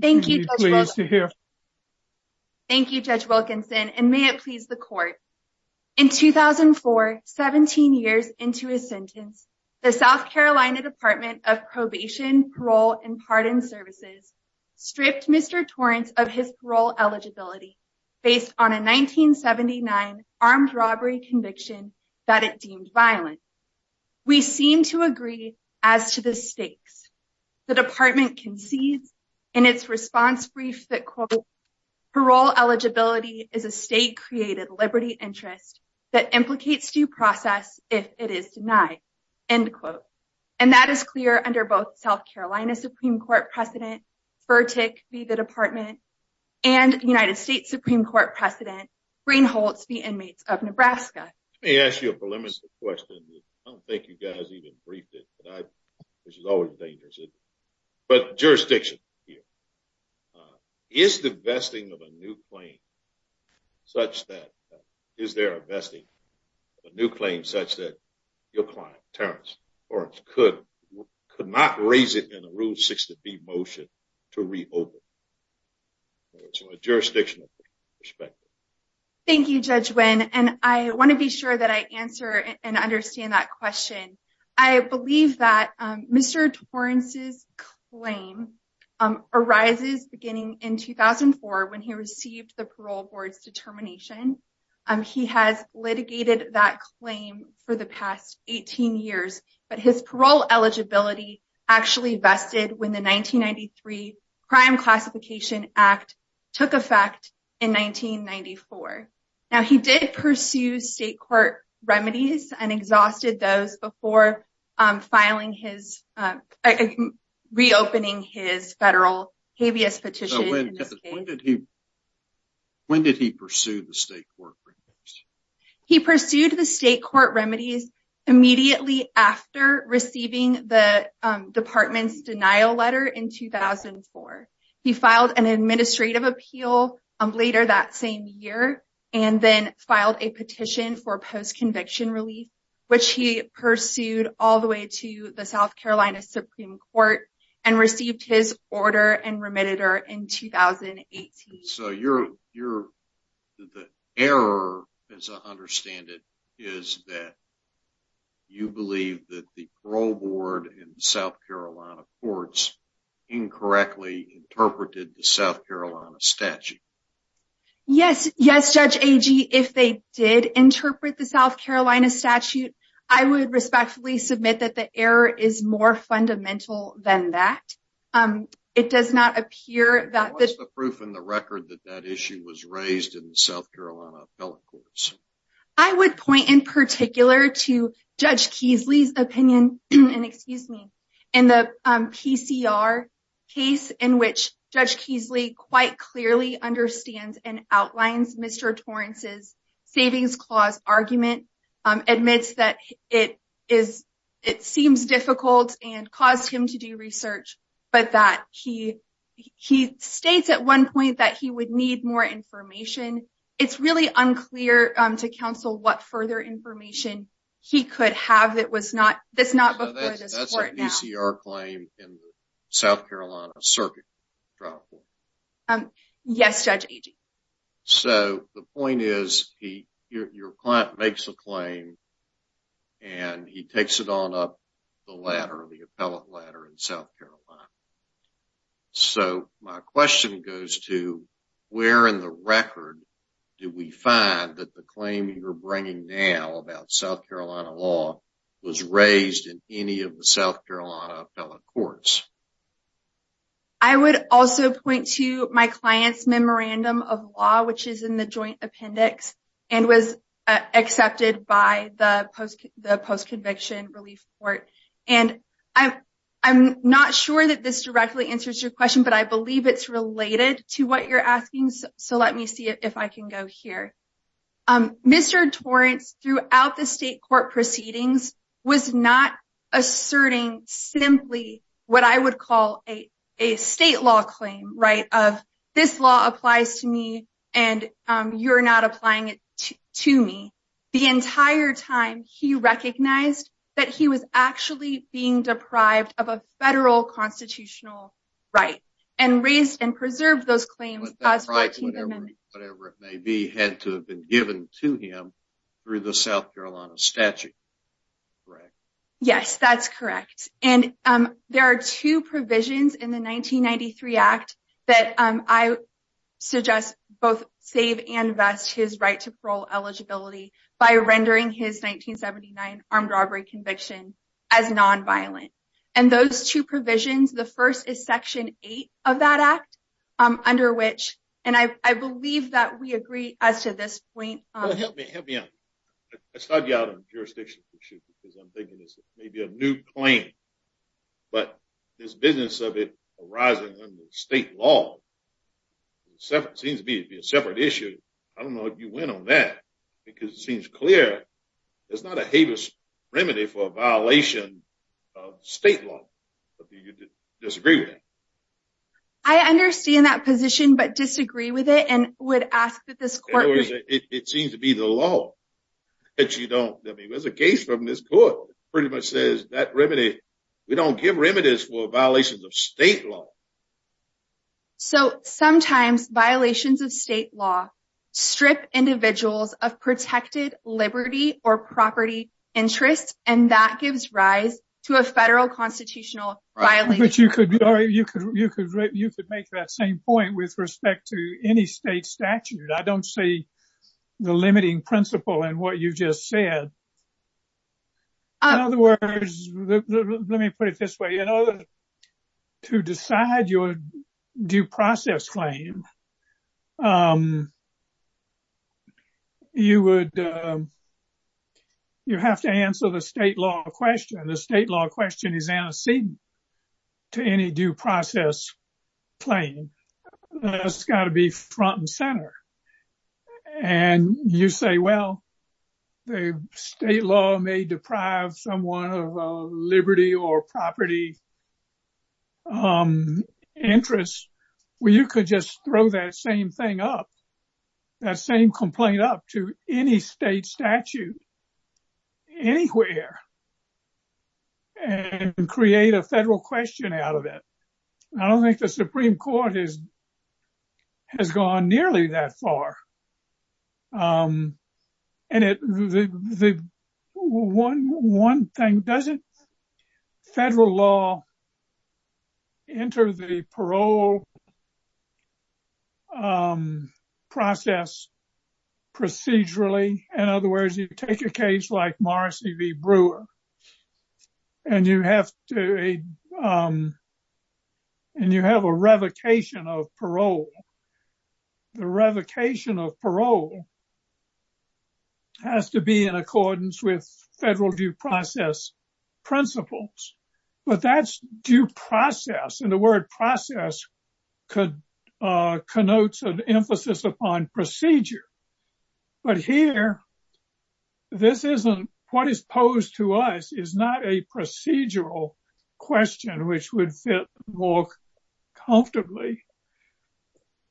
Thank you, Judge Wilkinson, and may it please the court. In 2004, 17 years into his sentence, the South Carolina Department of Probation, Parole, and Pardon Services stripped Mr. Torrence of his parole eligibility based on a 1979 armed robbery conviction that it deemed violent. We seem to agree as to the stakes. The department concedes in its response brief that parole eligibility is a state-created liberty interest that implicates due process if it is denied, end quote. And that is clear under both South Carolina Supreme Court President Fertick v. The Department and United States Supreme Court President Greenholtz v. Inmates of Nebraska. Let me ask you a preliminary question. I don't think you guys even briefed it, which is always dangerous, but jurisdiction here. Is the vesting of a new claim such that your client, Torrence, could not raise it in a Rule 60B motion to reopen? It's a jurisdictional perspective. Thank you, Judge Wynn, and I want to be sure that I answer and understand that question. I believe that Mr. Torrence's claim arises beginning in 2004 when he received the parole board's determination. He has litigated that claim for the past 18 years, but his parole eligibility actually vested when the 1993 Crime Classification Act took effect in 1994. Now, he did pursue state court remedies and exhausted those before reopening his federal habeas petition. When did he pursue the state court remedies? He pursued the state court remedies immediately after receiving the department's denial letter in 2004. He filed an administrative appeal later that same year and then filed a petition for post-conviction relief, which he pursued all the way to the South Carolina Supreme Court and received his order and remitted her in You believe that the parole board in the South Carolina courts incorrectly interpreted the South Carolina statute? Yes. Yes, Judge Agee. If they did interpret the South Carolina statute, I would respectfully submit that the error is more fundamental than that. It does not appear that the proof in the record that that issue was raised in the South Carolina appellate courts. I would point in particular to Judge Keasley's opinion, and excuse me, in the PCR case in which Judge Keasley quite clearly understands and outlines Mr. Torrance's savings clause argument, admits that it seems difficult and caused him to do research, but that he states at one point that he would need more information. It's really unclear to counsel what further information he could have that was not, that's not before this court now. So that's a PCR claim in the South Carolina circuit trial court? Yes, Judge Agee. So the point is, your client makes a claim and he takes it on up the ladder, the appellate ladder in South Carolina. So my question goes to, where in the record do we find that the claim you're bringing now about South Carolina law was raised in any of the South Carolina appellate courts? I would also point to my client's memorandum of law, which is in the joint appendix and was that this directly answers your question, but I believe it's related to what you're asking. So let me see if I can go here. Mr. Torrance, throughout the state court proceedings, was not asserting simply what I would call a state law claim, right? Of this law applies to me and you're not applying it to me. The entire time he recognized that he was actually being constitutional right and raised and preserved those claims. Whatever it may be had to have been given to him through the South Carolina statute, correct? Yes, that's correct. And there are two provisions in the 1993 act that I suggest both save and vest his right to parole eligibility by rendering his 1979 armed robbery conviction as non-violent. And those two provisions, the first is section eight of that act, under which, and I believe that we agree as to this point. Well, help me out. I'll start you out on jurisdiction issues because I'm thinking this may be a new claim, but this business of it arising under state law seems to be a separate issue. I don't know if you went on that because it seems clear. It's not a habeas remedy for a violation of state law. But do you disagree with that? I understand that position, but disagree with it and would ask that this court. It seems to be the law that you don't. I mean, there's a case from this court pretty much says that remedy, we don't give remedies for violations of state law. So sometimes violations of state law strip individuals of protected liberty or property interests, and that gives rise to a federal constitutional violation. You could make that same point with respect to any state statute. I don't see the limiting principle in what you just said. In other words, let me put it this way. To decide your due process claim, you have to answer the state law question. The state law question is antecedent to any due process claim. It's got to be front and center. And you say, well, state law may deprive someone of liberty or property interests. Well, you could just throw that same thing up, that same complaint up to any state statute anywhere and create a federal question out of it. I don't think the Supreme Court would do that. One thing, doesn't federal law enter the parole process procedurally? In other words, you take a case like Morrissey v. Brewer, and you have a revocation of parole. The revocation of parole has to be in accordance with federal due process principles. But that's due process, and the word process connotes an emphasis upon procedure. But here, what is posed to us is not a procedural question, which would fit more comfortably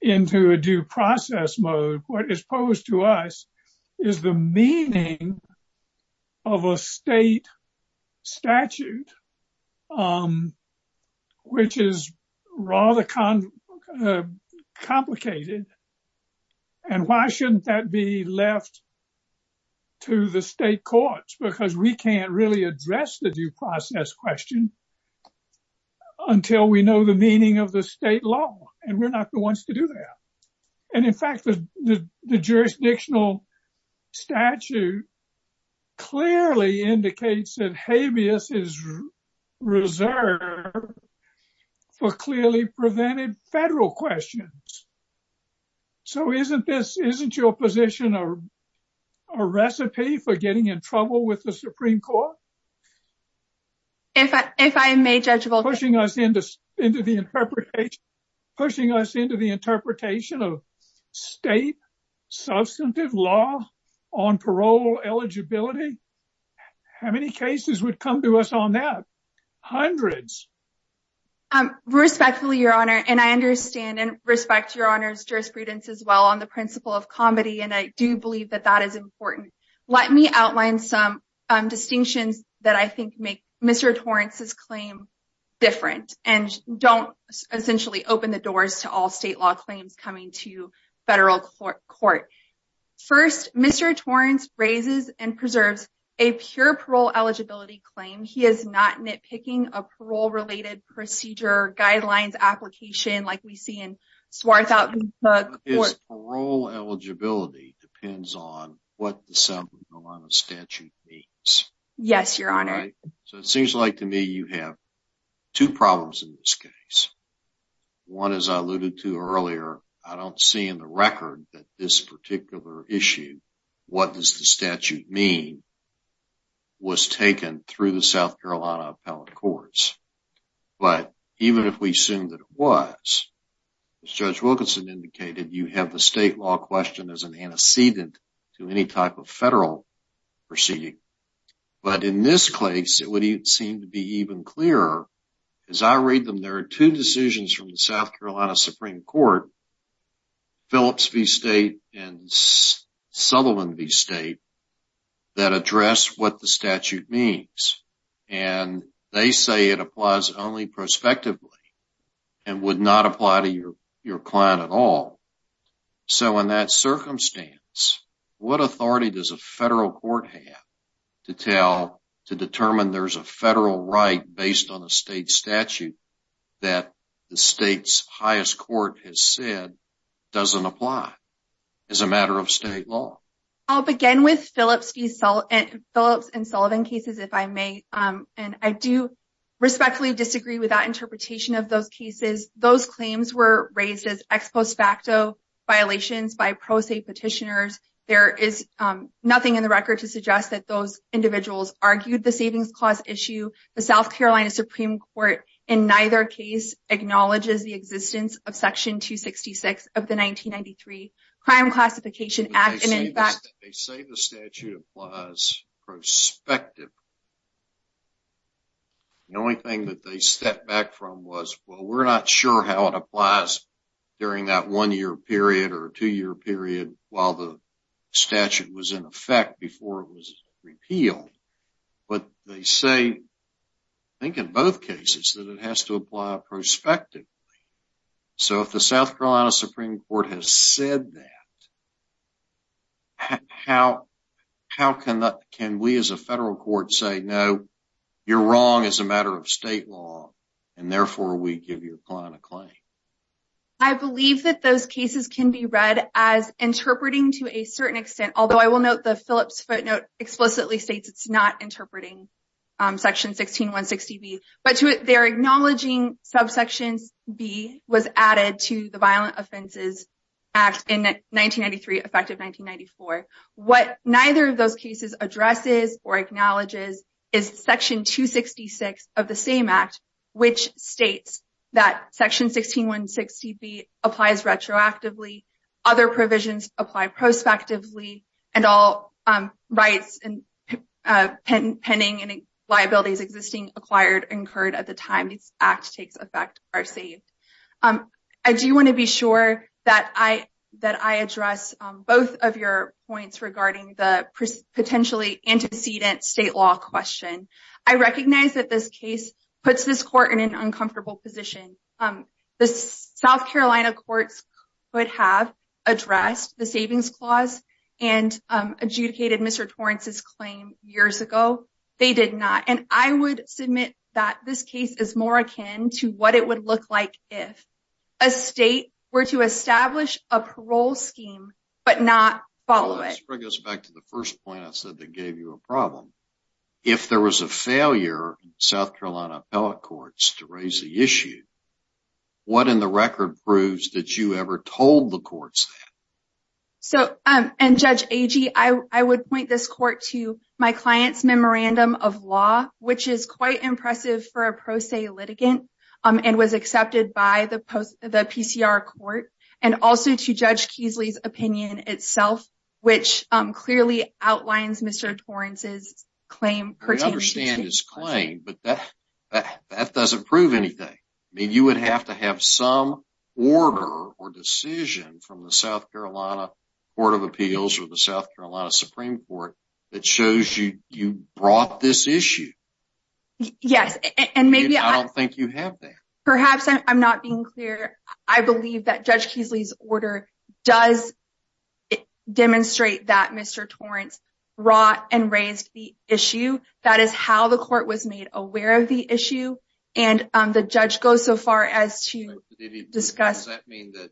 into a due process mode. What is posed to us is the meaning of a state statute, which is rather complicated. And why shouldn't that be left to the state courts? Because we really can't address the due process question until we know the meaning of the state law, and we're not the ones to do that. And in fact, the jurisdictional statute clearly indicates that habeas is reserved for clearly prevented federal questions. So isn't your position a recipe for getting in trouble with the Supreme Court? Pushing us into the interpretation of state substantive law on parole eligibility? How many cases would come to us on that? Hundreds. Um, respectfully, Your Honor, and I understand and respect Your Honor's jurisprudence as well on the principle of comedy, and I do believe that that is important. Let me outline some distinctions that I think make Mr. Torrance's claim different, and don't essentially open the doors to all state law claims coming to federal court. First, Mr. Torrance raises and procedure, guidelines, application, like we see in Swarthout. Parole eligibility depends on what the South Carolina statute means. Yes, Your Honor. So it seems like to me you have two problems in this case. One, as I alluded to earlier, I don't see in the record that this particular issue, what does the statute mean, was taken through the South Carolina appellate courts. But even if we assume that it was, as Judge Wilkinson indicated, you have the state law question as an antecedent to any type of federal proceeding. But in this case, it would seem to be even clearer as I read them. There are two decisions from the South Carolina Supreme Court, Phillips v. State and Sutherland v. State, that address what the statute means. And they say it applies only prospectively, and would not apply to your client at all. So in that circumstance, what authority does a federal court have to tell, to determine there's a federal right based on a state statute that the state's highest court has said doesn't apply as a matter of state law? I'll begin with Phillips v. Sullivan cases, if I may. And I do respectfully disagree with that interpretation of those cases. Those claims were raised as ex post facto violations by pro se petitioners. There is nothing in the record to suggest that those individuals argued the savings clause issue, the South Carolina Supreme Court, in neither case, acknowledges the existence of Section 266 of the 1993 Crime Classification Act. And in fact, they say the statute applies prospective. The only thing that they step back from was, well, we're not sure how it applies during that one year period or two year period, while the statute was in effect before it was repealed. But they say, I think in both cases, that it has to apply prospectively. So if the South Carolina Supreme Court has said that, how can we as a federal court say, no, you're wrong as a matter of state law, and therefore we give your client a claim? I believe that those cases can be read as interpreting to a certain extent, although I will note the Phillips footnote explicitly states it's not interpreting Section 16160B. But to it, they're acknowledging subsections B was added to the Violent Offenses Act in 1993, effective 1994. What neither of those cases addresses or acknowledges is Section 266 of the same act, which states that Section 16160B applies retroactively, other provisions apply prospectively, and all rights and pending liabilities existing acquired incurred at the time this act takes effect are saved. I do want to be sure that I address both of your points regarding the potentially antecedent state law question. I recognize that puts this court in an uncomfortable position. The South Carolina courts could have addressed the savings clause and adjudicated Mr. Torrance's claim years ago. They did not. And I would submit that this case is more akin to what it would look like if a state were to establish a parole scheme, but not follow it. It goes back to the first point I said that gave you a problem. If there was a failure in South Carolina appellate courts to raise the issue, what in the record proves that you ever told the courts that? So, and Judge Agee, I would point this court to my client's memorandum of law, which is quite impressive for a pro se litigant and was accepted by the PCR court, and also to Judge Keasley's opinion itself, which clearly outlines Mr. Torrance's claim. I understand his claim, but that doesn't prove anything. I mean, you would have to have some order or decision from the South Carolina Court of Appeals or the South Carolina Supreme Court that shows you brought this issue. Yes, and maybe I don't think you have that. Perhaps I'm not being clear. I believe that Judge Keasley's order does demonstrate that Mr. Torrance brought and raised the issue. That is how the court was made aware of the issue, and the judge goes so far as to discuss- Does that mean that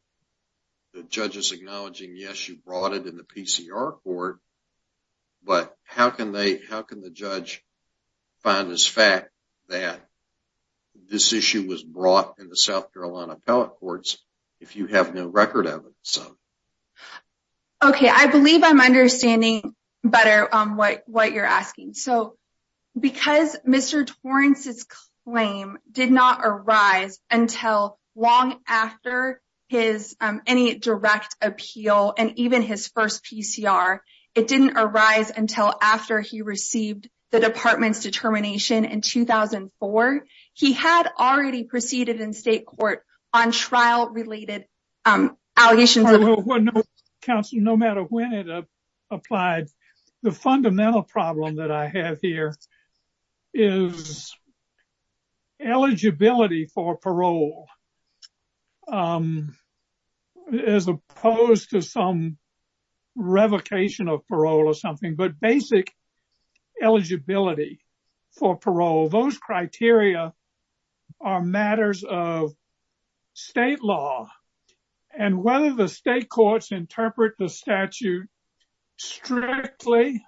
the judge is acknowledging, yes, you brought it in the PCR court, but how can the judge find this fact that this issue was brought in the South Carolina appellate courts if you have no record of it? Okay, I believe I'm understanding better what you're asking. So, because Mr. Torrance's claim did not arise until long after any direct appeal and even his first PCR, it didn't arise until after he received the department's determination in 2004. He had already proceeded in state court on trial-related allegations. Council, no matter when it applied, the fundamental problem that I have here is eligibility for parole as opposed to some revocation of parole or something, but basic eligibility for parole, those criteria are matters of state law, and whether the state courts interpret the statute strictly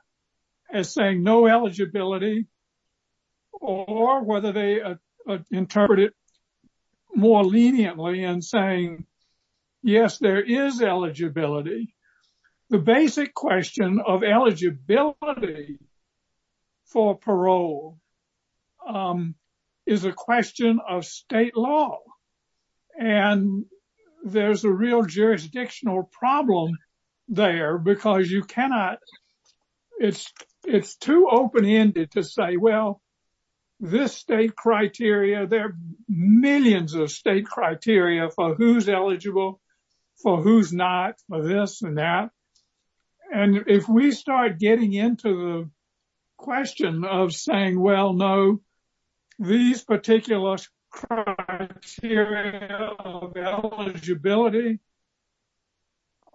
as saying no eligibility or whether they interpret it more leniently and saying, yes, there is eligibility. The basic question of eligibility for parole is a question of state law, and there's a real jurisdictional problem there because you cannot- It's too open-ended to say, well, this state criteria, there are millions of state criteria for who's eligible, for who's not, for this and that, and if we start getting into the know, these particular criteria of eligibility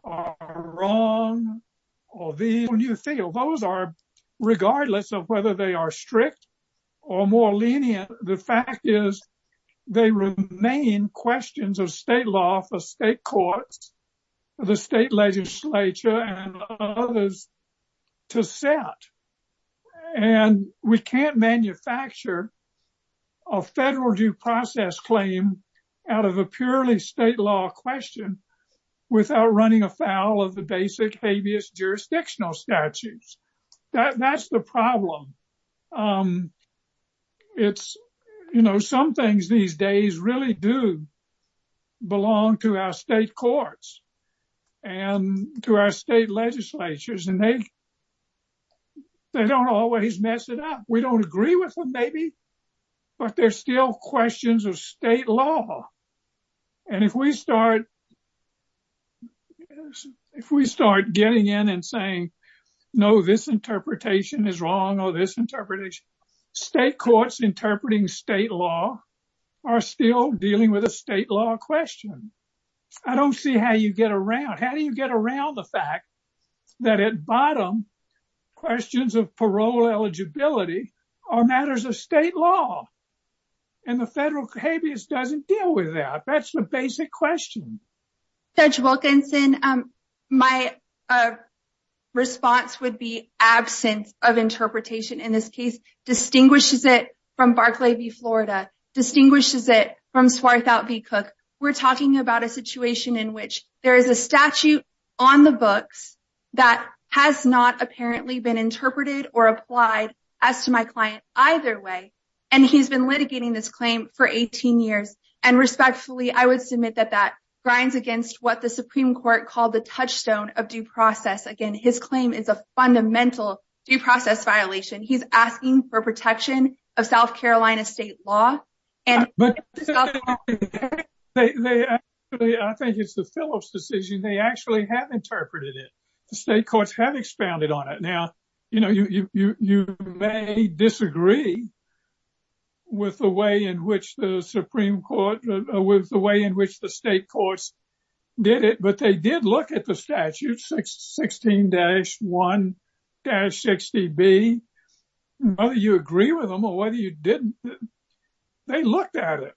are wrong or these- When you feel those are, regardless of whether they are strict or more lenient, the fact is they remain questions of state law. You cannot manufacture a federal due process claim out of a purely state law question without running afoul of the basic habeas jurisdictional statutes. That's the problem. Some things these days really do belong to our state courts and to our state legislatures, and they don't always mess it up. We don't agree with them, maybe, but they're still questions of state law. If we start getting in and saying, no, this interpretation is wrong or this interpretation- State courts interpreting state law are still dealing with a state law question. I don't see how you get around. How bottom questions of parole eligibility are matters of state law, and the federal habeas doesn't deal with that. That's the basic question. Judge Wilkinson, my response would be absence of interpretation. In this case, distinguishes it from Barclay v. Florida, distinguishes it from Swarthout v. Cook. We're talking about a situation in which there is a statute on the books that has not apparently been interpreted or applied as to my client either way, and he's been litigating this claim for 18 years. Respectfully, I would submit that that grinds against what the Supreme Court called the touchstone of due process. Again, his claim is a fundamental due process violation. He's asking for protection of South Carolina state law. But I think it's the Phillips decision. They actually have interpreted it. The state courts have expounded on it. Now, you may disagree with the way in which the state courts did it, but they did look at the statute, 16-1-60B. Whether you agree with them or whether you didn't, they looked at it.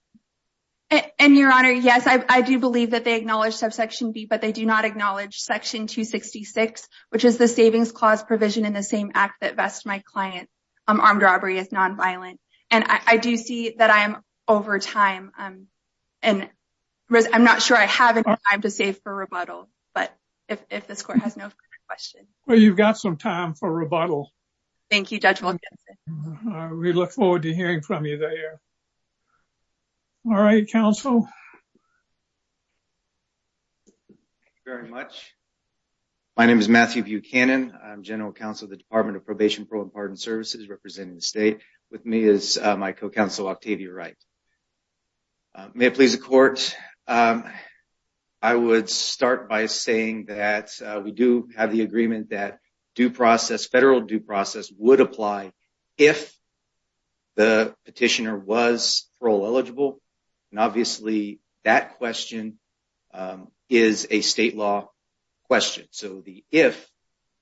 Your Honor, yes, I do believe that they acknowledge subsection B, but they do not acknowledge section 266, which is the savings clause provision in the same act that vests my client armed robbery as nonviolent. I do see that I am over time. I'm not sure I have any time to save for rebuttal, but if this court has no question. Well, you've got some time for rebuttal. Thank you, Judge Wilkinson. We look forward to hearing from you there. All right, counsel. Thank you very much. My name is Matthew Buchanan. I'm general counsel of the Department of Probation Pro-Pardon Services representing the state. With me is my co-counsel Octavia Wright. May it please the court. I would start by saying that we do have the agreement that federal due process would apply if the petitioner was parole eligible. Obviously, that question is a state law question. So, if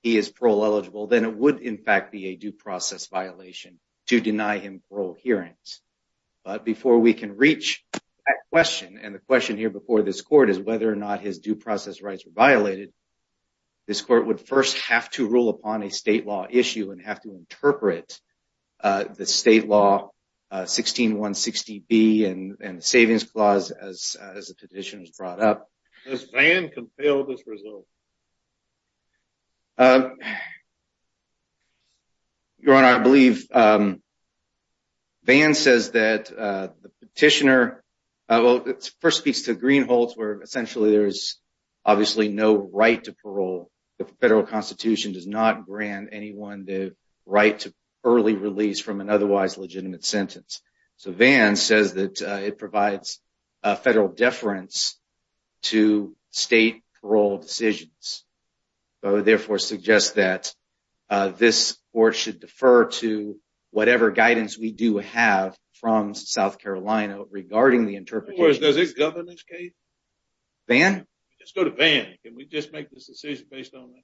he is parole eligible, then it would, in fact, be a due process hearing. But before we can reach that question, and the question here before this court is whether or not his due process rights were violated, this court would first have to rule upon a state law issue and have to interpret the state law 16160B and the savings clause as the petition was brought up. Does Vann compel this result? Your Honor, I believe Vann says that the petitioner, well, it first speaks to green holes where essentially there is obviously no right to parole. The federal constitution does not grant anyone the right to early release from an otherwise legitimate sentence. So, Vann says it provides a federal deference to state parole decisions. Therefore, it suggests that this court should defer to whatever guidance we do have from South Carolina regarding the interpretation. In other words, does it govern this case? Vann? Let's go to Vann. Can we just make this decision based on that?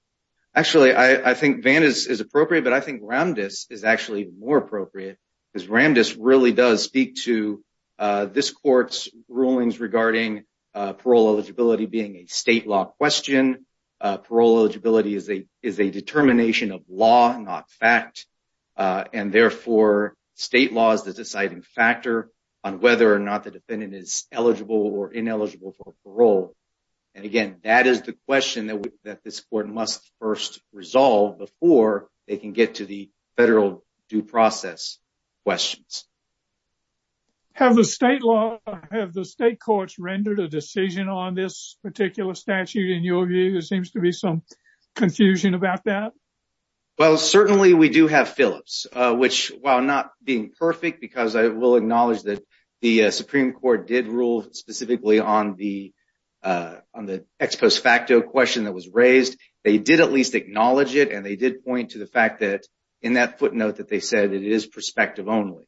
Actually, I think Vann is appropriate, but I think Ramdis is actually more appropriate because Ramdis really does speak to this court's rulings regarding parole eligibility being a state law question. Parole eligibility is a determination of law, not fact. And therefore, state law is the deciding factor on whether or not the defendant is eligible or ineligible for parole. And again, that is the question that this court must first resolve before they can get to the federal due process questions. Have the state courts rendered a decision on this particular statute? In your view, there seems to be some confusion about that. Well, certainly we do have Phillips, which while not being perfect, because I will acknowledge that the Supreme Court did rule specifically on the ex post facto question that was raised, they did at least acknowledge it. And they did point to the fact that in that footnote that they said it is perspective only.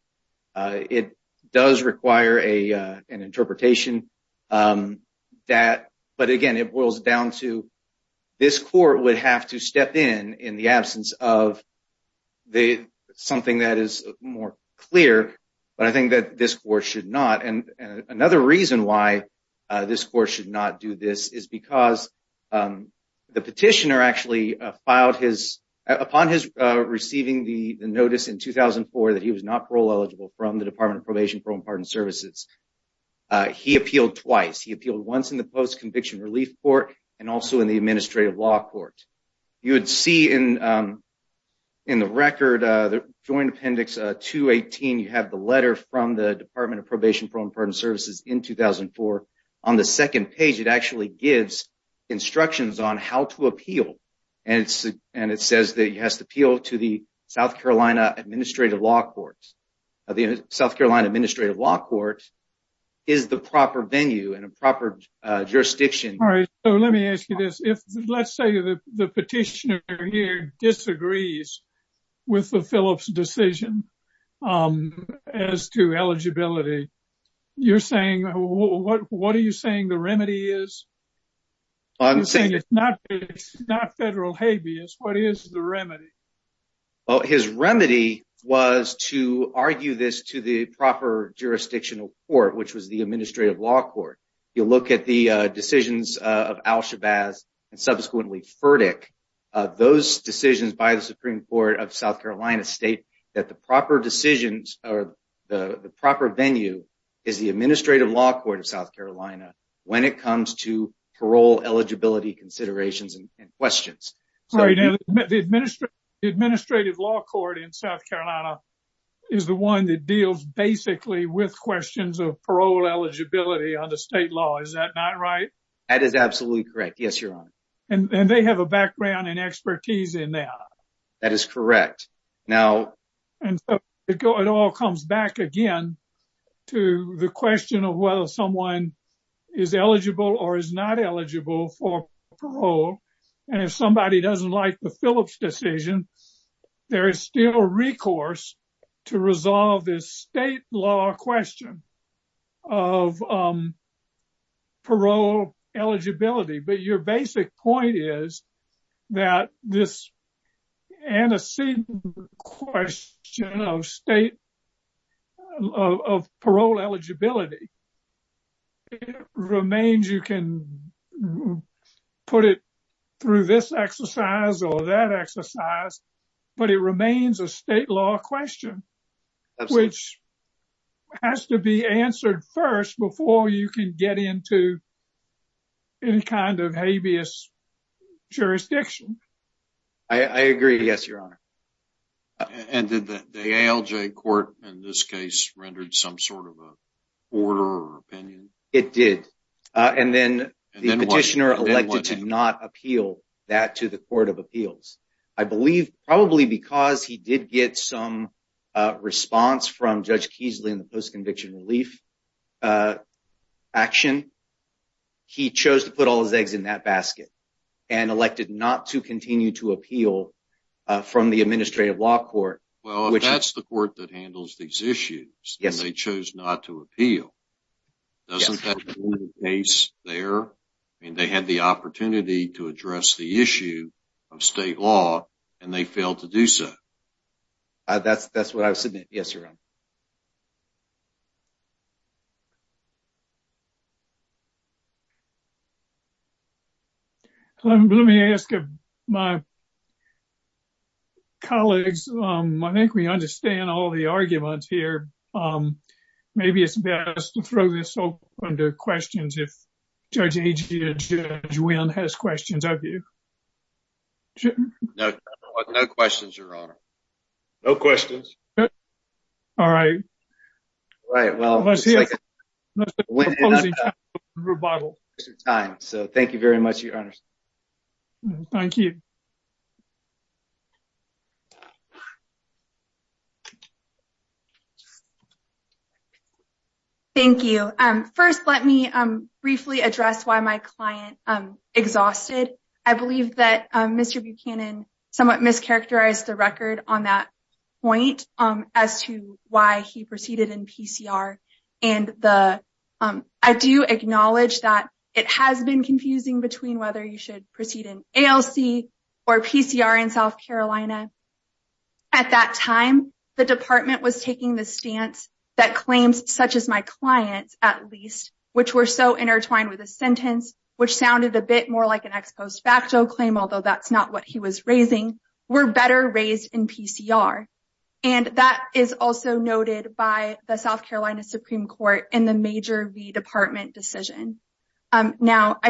It does require an interpretation. But again, it boils down to this court would have to step in in the absence of something that is more clear. But I think that this court should not. And another reason why this court should not do this is because the petitioner actually filed his upon his receiving the notice in 2004 that he was not parole eligible from the Department of Probation, Parole and Pardon Services. He appealed twice. He appealed once in the Post-Conviction Relief Court and also in the Administrative Law Court. You would see in the record, the joint appendix 218, you have the letter from the Department of Probation, Parole and Pardon Services in 2004. On the second page, it actually gives instructions on how to appeal. And it's and it says that he has to appeal to the South Carolina Administrative Law Court. The South Carolina Administrative Law Court is the proper venue and a proper jurisdiction. All right. So let me ask you this. If let's say the petitioner here disagrees with the Phillips decision as to eligibility, you're saying what are you saying the remedy is? I'm saying it's not federal habeas. What is the remedy? Well, his remedy was to argue this to the proper jurisdictional court, which was the Administrative Law Court. You look at the decisions by the Supreme Court of South Carolina state that the proper decisions or the proper venue is the Administrative Law Court of South Carolina when it comes to parole eligibility considerations and questions. The Administrative Law Court in South Carolina is the one that deals basically with questions of parole eligibility on the state law. Is that not right? That is that is correct. Now, it all comes back again to the question of whether someone is eligible or is not eligible for parole. And if somebody doesn't like the Phillips decision, there is still a recourse to resolve this state law question of parole eligibility. But your basic point is that this antecedent question of state of parole eligibility remains. You can put it through this exercise or that exercise, but it remains a state law question, which has to be answered first before you can get into any kind of habeas jurisdiction. I agree. Yes, your honor. And did the ALJ court in this case rendered some sort of order or opinion? It did. And then the petitioner elected to not appeal that to the Court of Appeals, I believe, probably because he did get some response from Judge Keasley in the post-conviction relief action. He chose to put all his eggs in that basket and elected not to continue to appeal from the Administrative Law Court. Well, that's the court that handles these issues. Yes. They chose not to appeal. Doesn't that make sense there? And they had the opportunity to address the issue of state law, and they failed to do so. That's what I was saying. Yes, your honor. Let me ask my colleagues, I think we understand all the arguments here. Maybe it's best to throw this open to questions if Judge Wynn has questions of you. No questions, your honor. No questions. All right. All right. Well, let's hear it. So thank you very much, your honor. Thank you. Thank you. First, let me briefly address why my client exhausted. I believe that Mr. Buchanan somewhat mischaracterized the record on that point as to why he proceeded in PCR. And I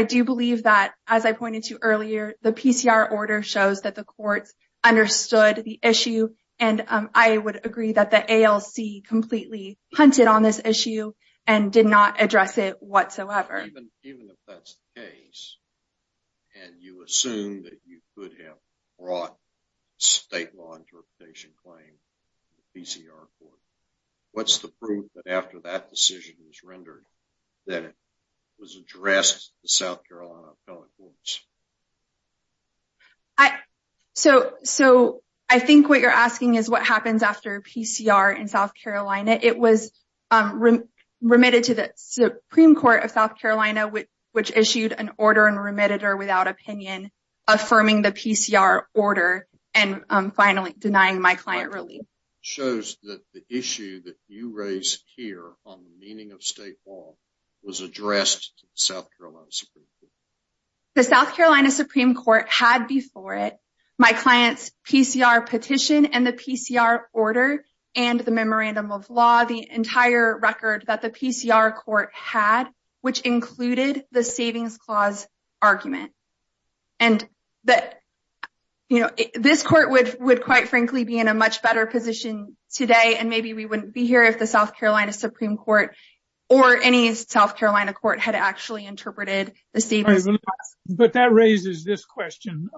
do believe that as I pointed to earlier, the PCR shows that the courts understood the issue. And I would agree that the ALC completely hunted on this issue and did not address it whatsoever. Even if that's the case, and you assume that you could have brought state law interpretation claim to the PCR court, what's the proof that after that decision was rendered that it was addressed to the South Carolina Supreme Court? I think what you're asking is what happens after PCR in South Carolina. It was remitted to the Supreme Court of South Carolina, which issued an order and remitted her without opinion, affirming the PCR order, and finally denying my client relief. Shows that the issue that you raised here on the meaning of state law was addressed to the South Carolina Supreme Court. The South Carolina Supreme Court had before it my client's PCR petition and the PCR order and the memorandum of law, the entire record that the PCR court had, which included the savings clause argument. And this court would quite frankly be in a much better position today, and maybe we wouldn't be here if the South Carolina Supreme Court or any South Carolina court had actually interpreted the state. But that raises this question.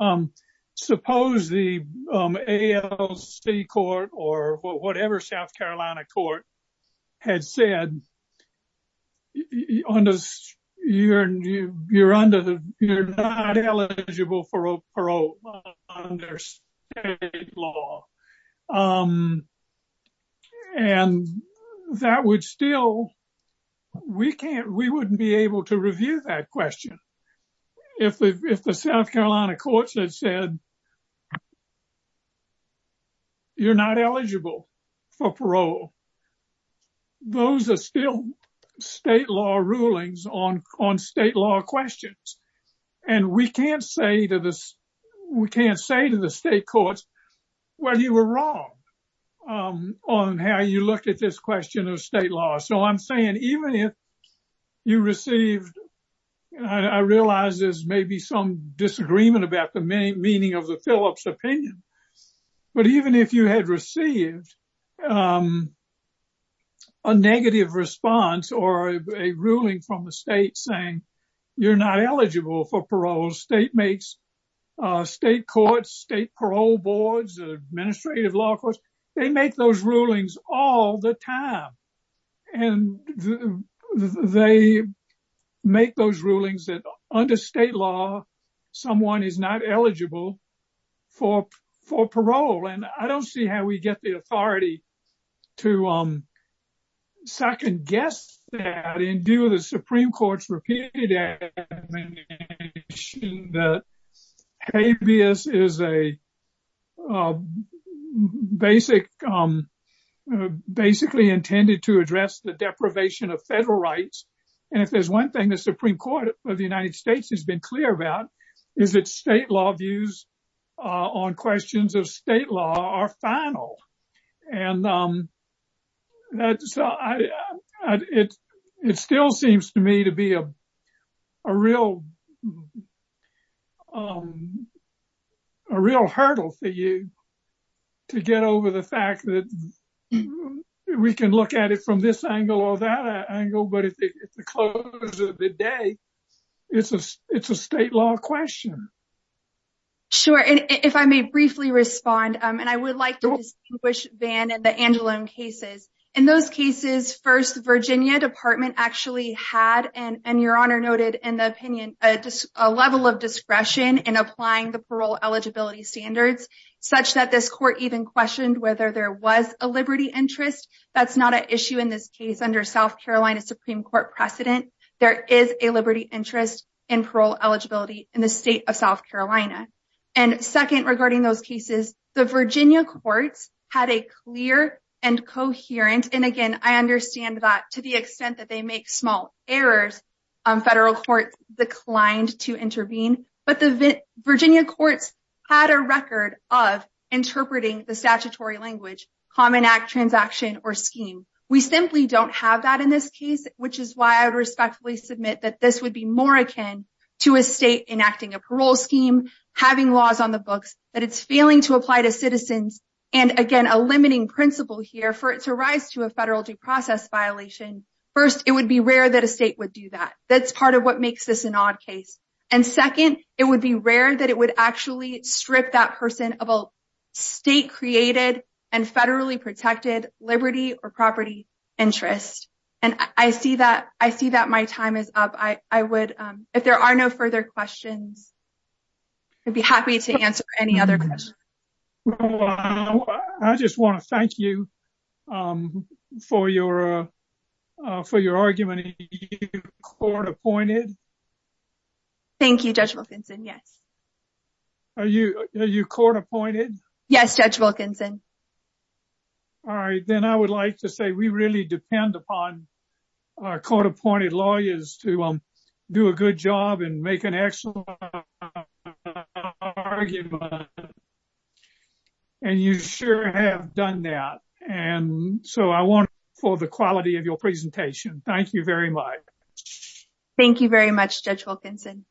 Suppose the ALC court or whatever South Carolina court had said, you're not eligible for parole under state law. And that would still, we can't, we wouldn't be able to review that question if the South Carolina courts had said, you're not eligible for parole. Those are still state law rulings on state law questions. And we can't say to the state courts, well, you were wrong on how you looked at this question of state law. So I'm saying even if you received, I realize there's maybe some disagreement about the meaning of the Phillips opinion, but even if you had received a negative response or a ruling from the state saying you're not eligible for parole, state courts, state parole boards, the administrative law courts, they make those rulings all the time. And they make those rulings that under state law, someone is not eligible for parole. And I don't see how we get the authority to second guess that in view of the Supreme Court's repeated admonition that habeas is a basic, basically intended to address the deprivation of federal rights. And if there's one thing the Supreme Court of the United States has been clear about is that state law views on questions of state law are final. And it still seems to me to be a real hurdle for you to get over the fact that we can look at it from this angle or that angle, but at the close of the day, it's a state law question. Sure. And if I may briefly respond, and I would like to distinguish Van and the Angeloan cases. In those cases, first Virginia department actually had, and your honor noted in the opinion, a level of discretion in applying the parole eligibility standards, such that this court even questioned whether there was a liberty interest. That's not an issue in this case under South Carolina Supreme Court precedent. There is a liberty interest in parole eligibility in the state of South Carolina. And second regarding those cases, the Virginia courts had a clear and coherent. And again, I understand that to the extent that they make small errors, federal courts declined to intervene, but the Virginia courts had a record of interpreting the statutory language, common act transaction or scheme. We simply don't have that in this case, which is why I would respectfully submit that this would be more akin to a state enacting a parole scheme, having laws on the books that it's failing to apply to citizens. And again, a limiting principle here for it to rise to a federal due process violation. First, it would be rare that a state would do that. That's part of what makes this an odd case. And second, it would be rare that it would actually strip that person of a state created and federally protected liberty or property interest. And I see that. I see that my time is up. I would, if there are no further questions, I'd be happy to answer any other questions. Well, I just want to thank you for your argument. Are you court appointed? Thank you, Judge Wilkinson. Yes. Are you court appointed? Yes, Judge Wilkinson. All right. Then I would like to say we really depend upon our court appointed lawyers to do a good job and make an excellent argument. And you sure have done that. And so I want for the quality of your presentation. Thank you very much. Thank you very much, Judge Wilkinson.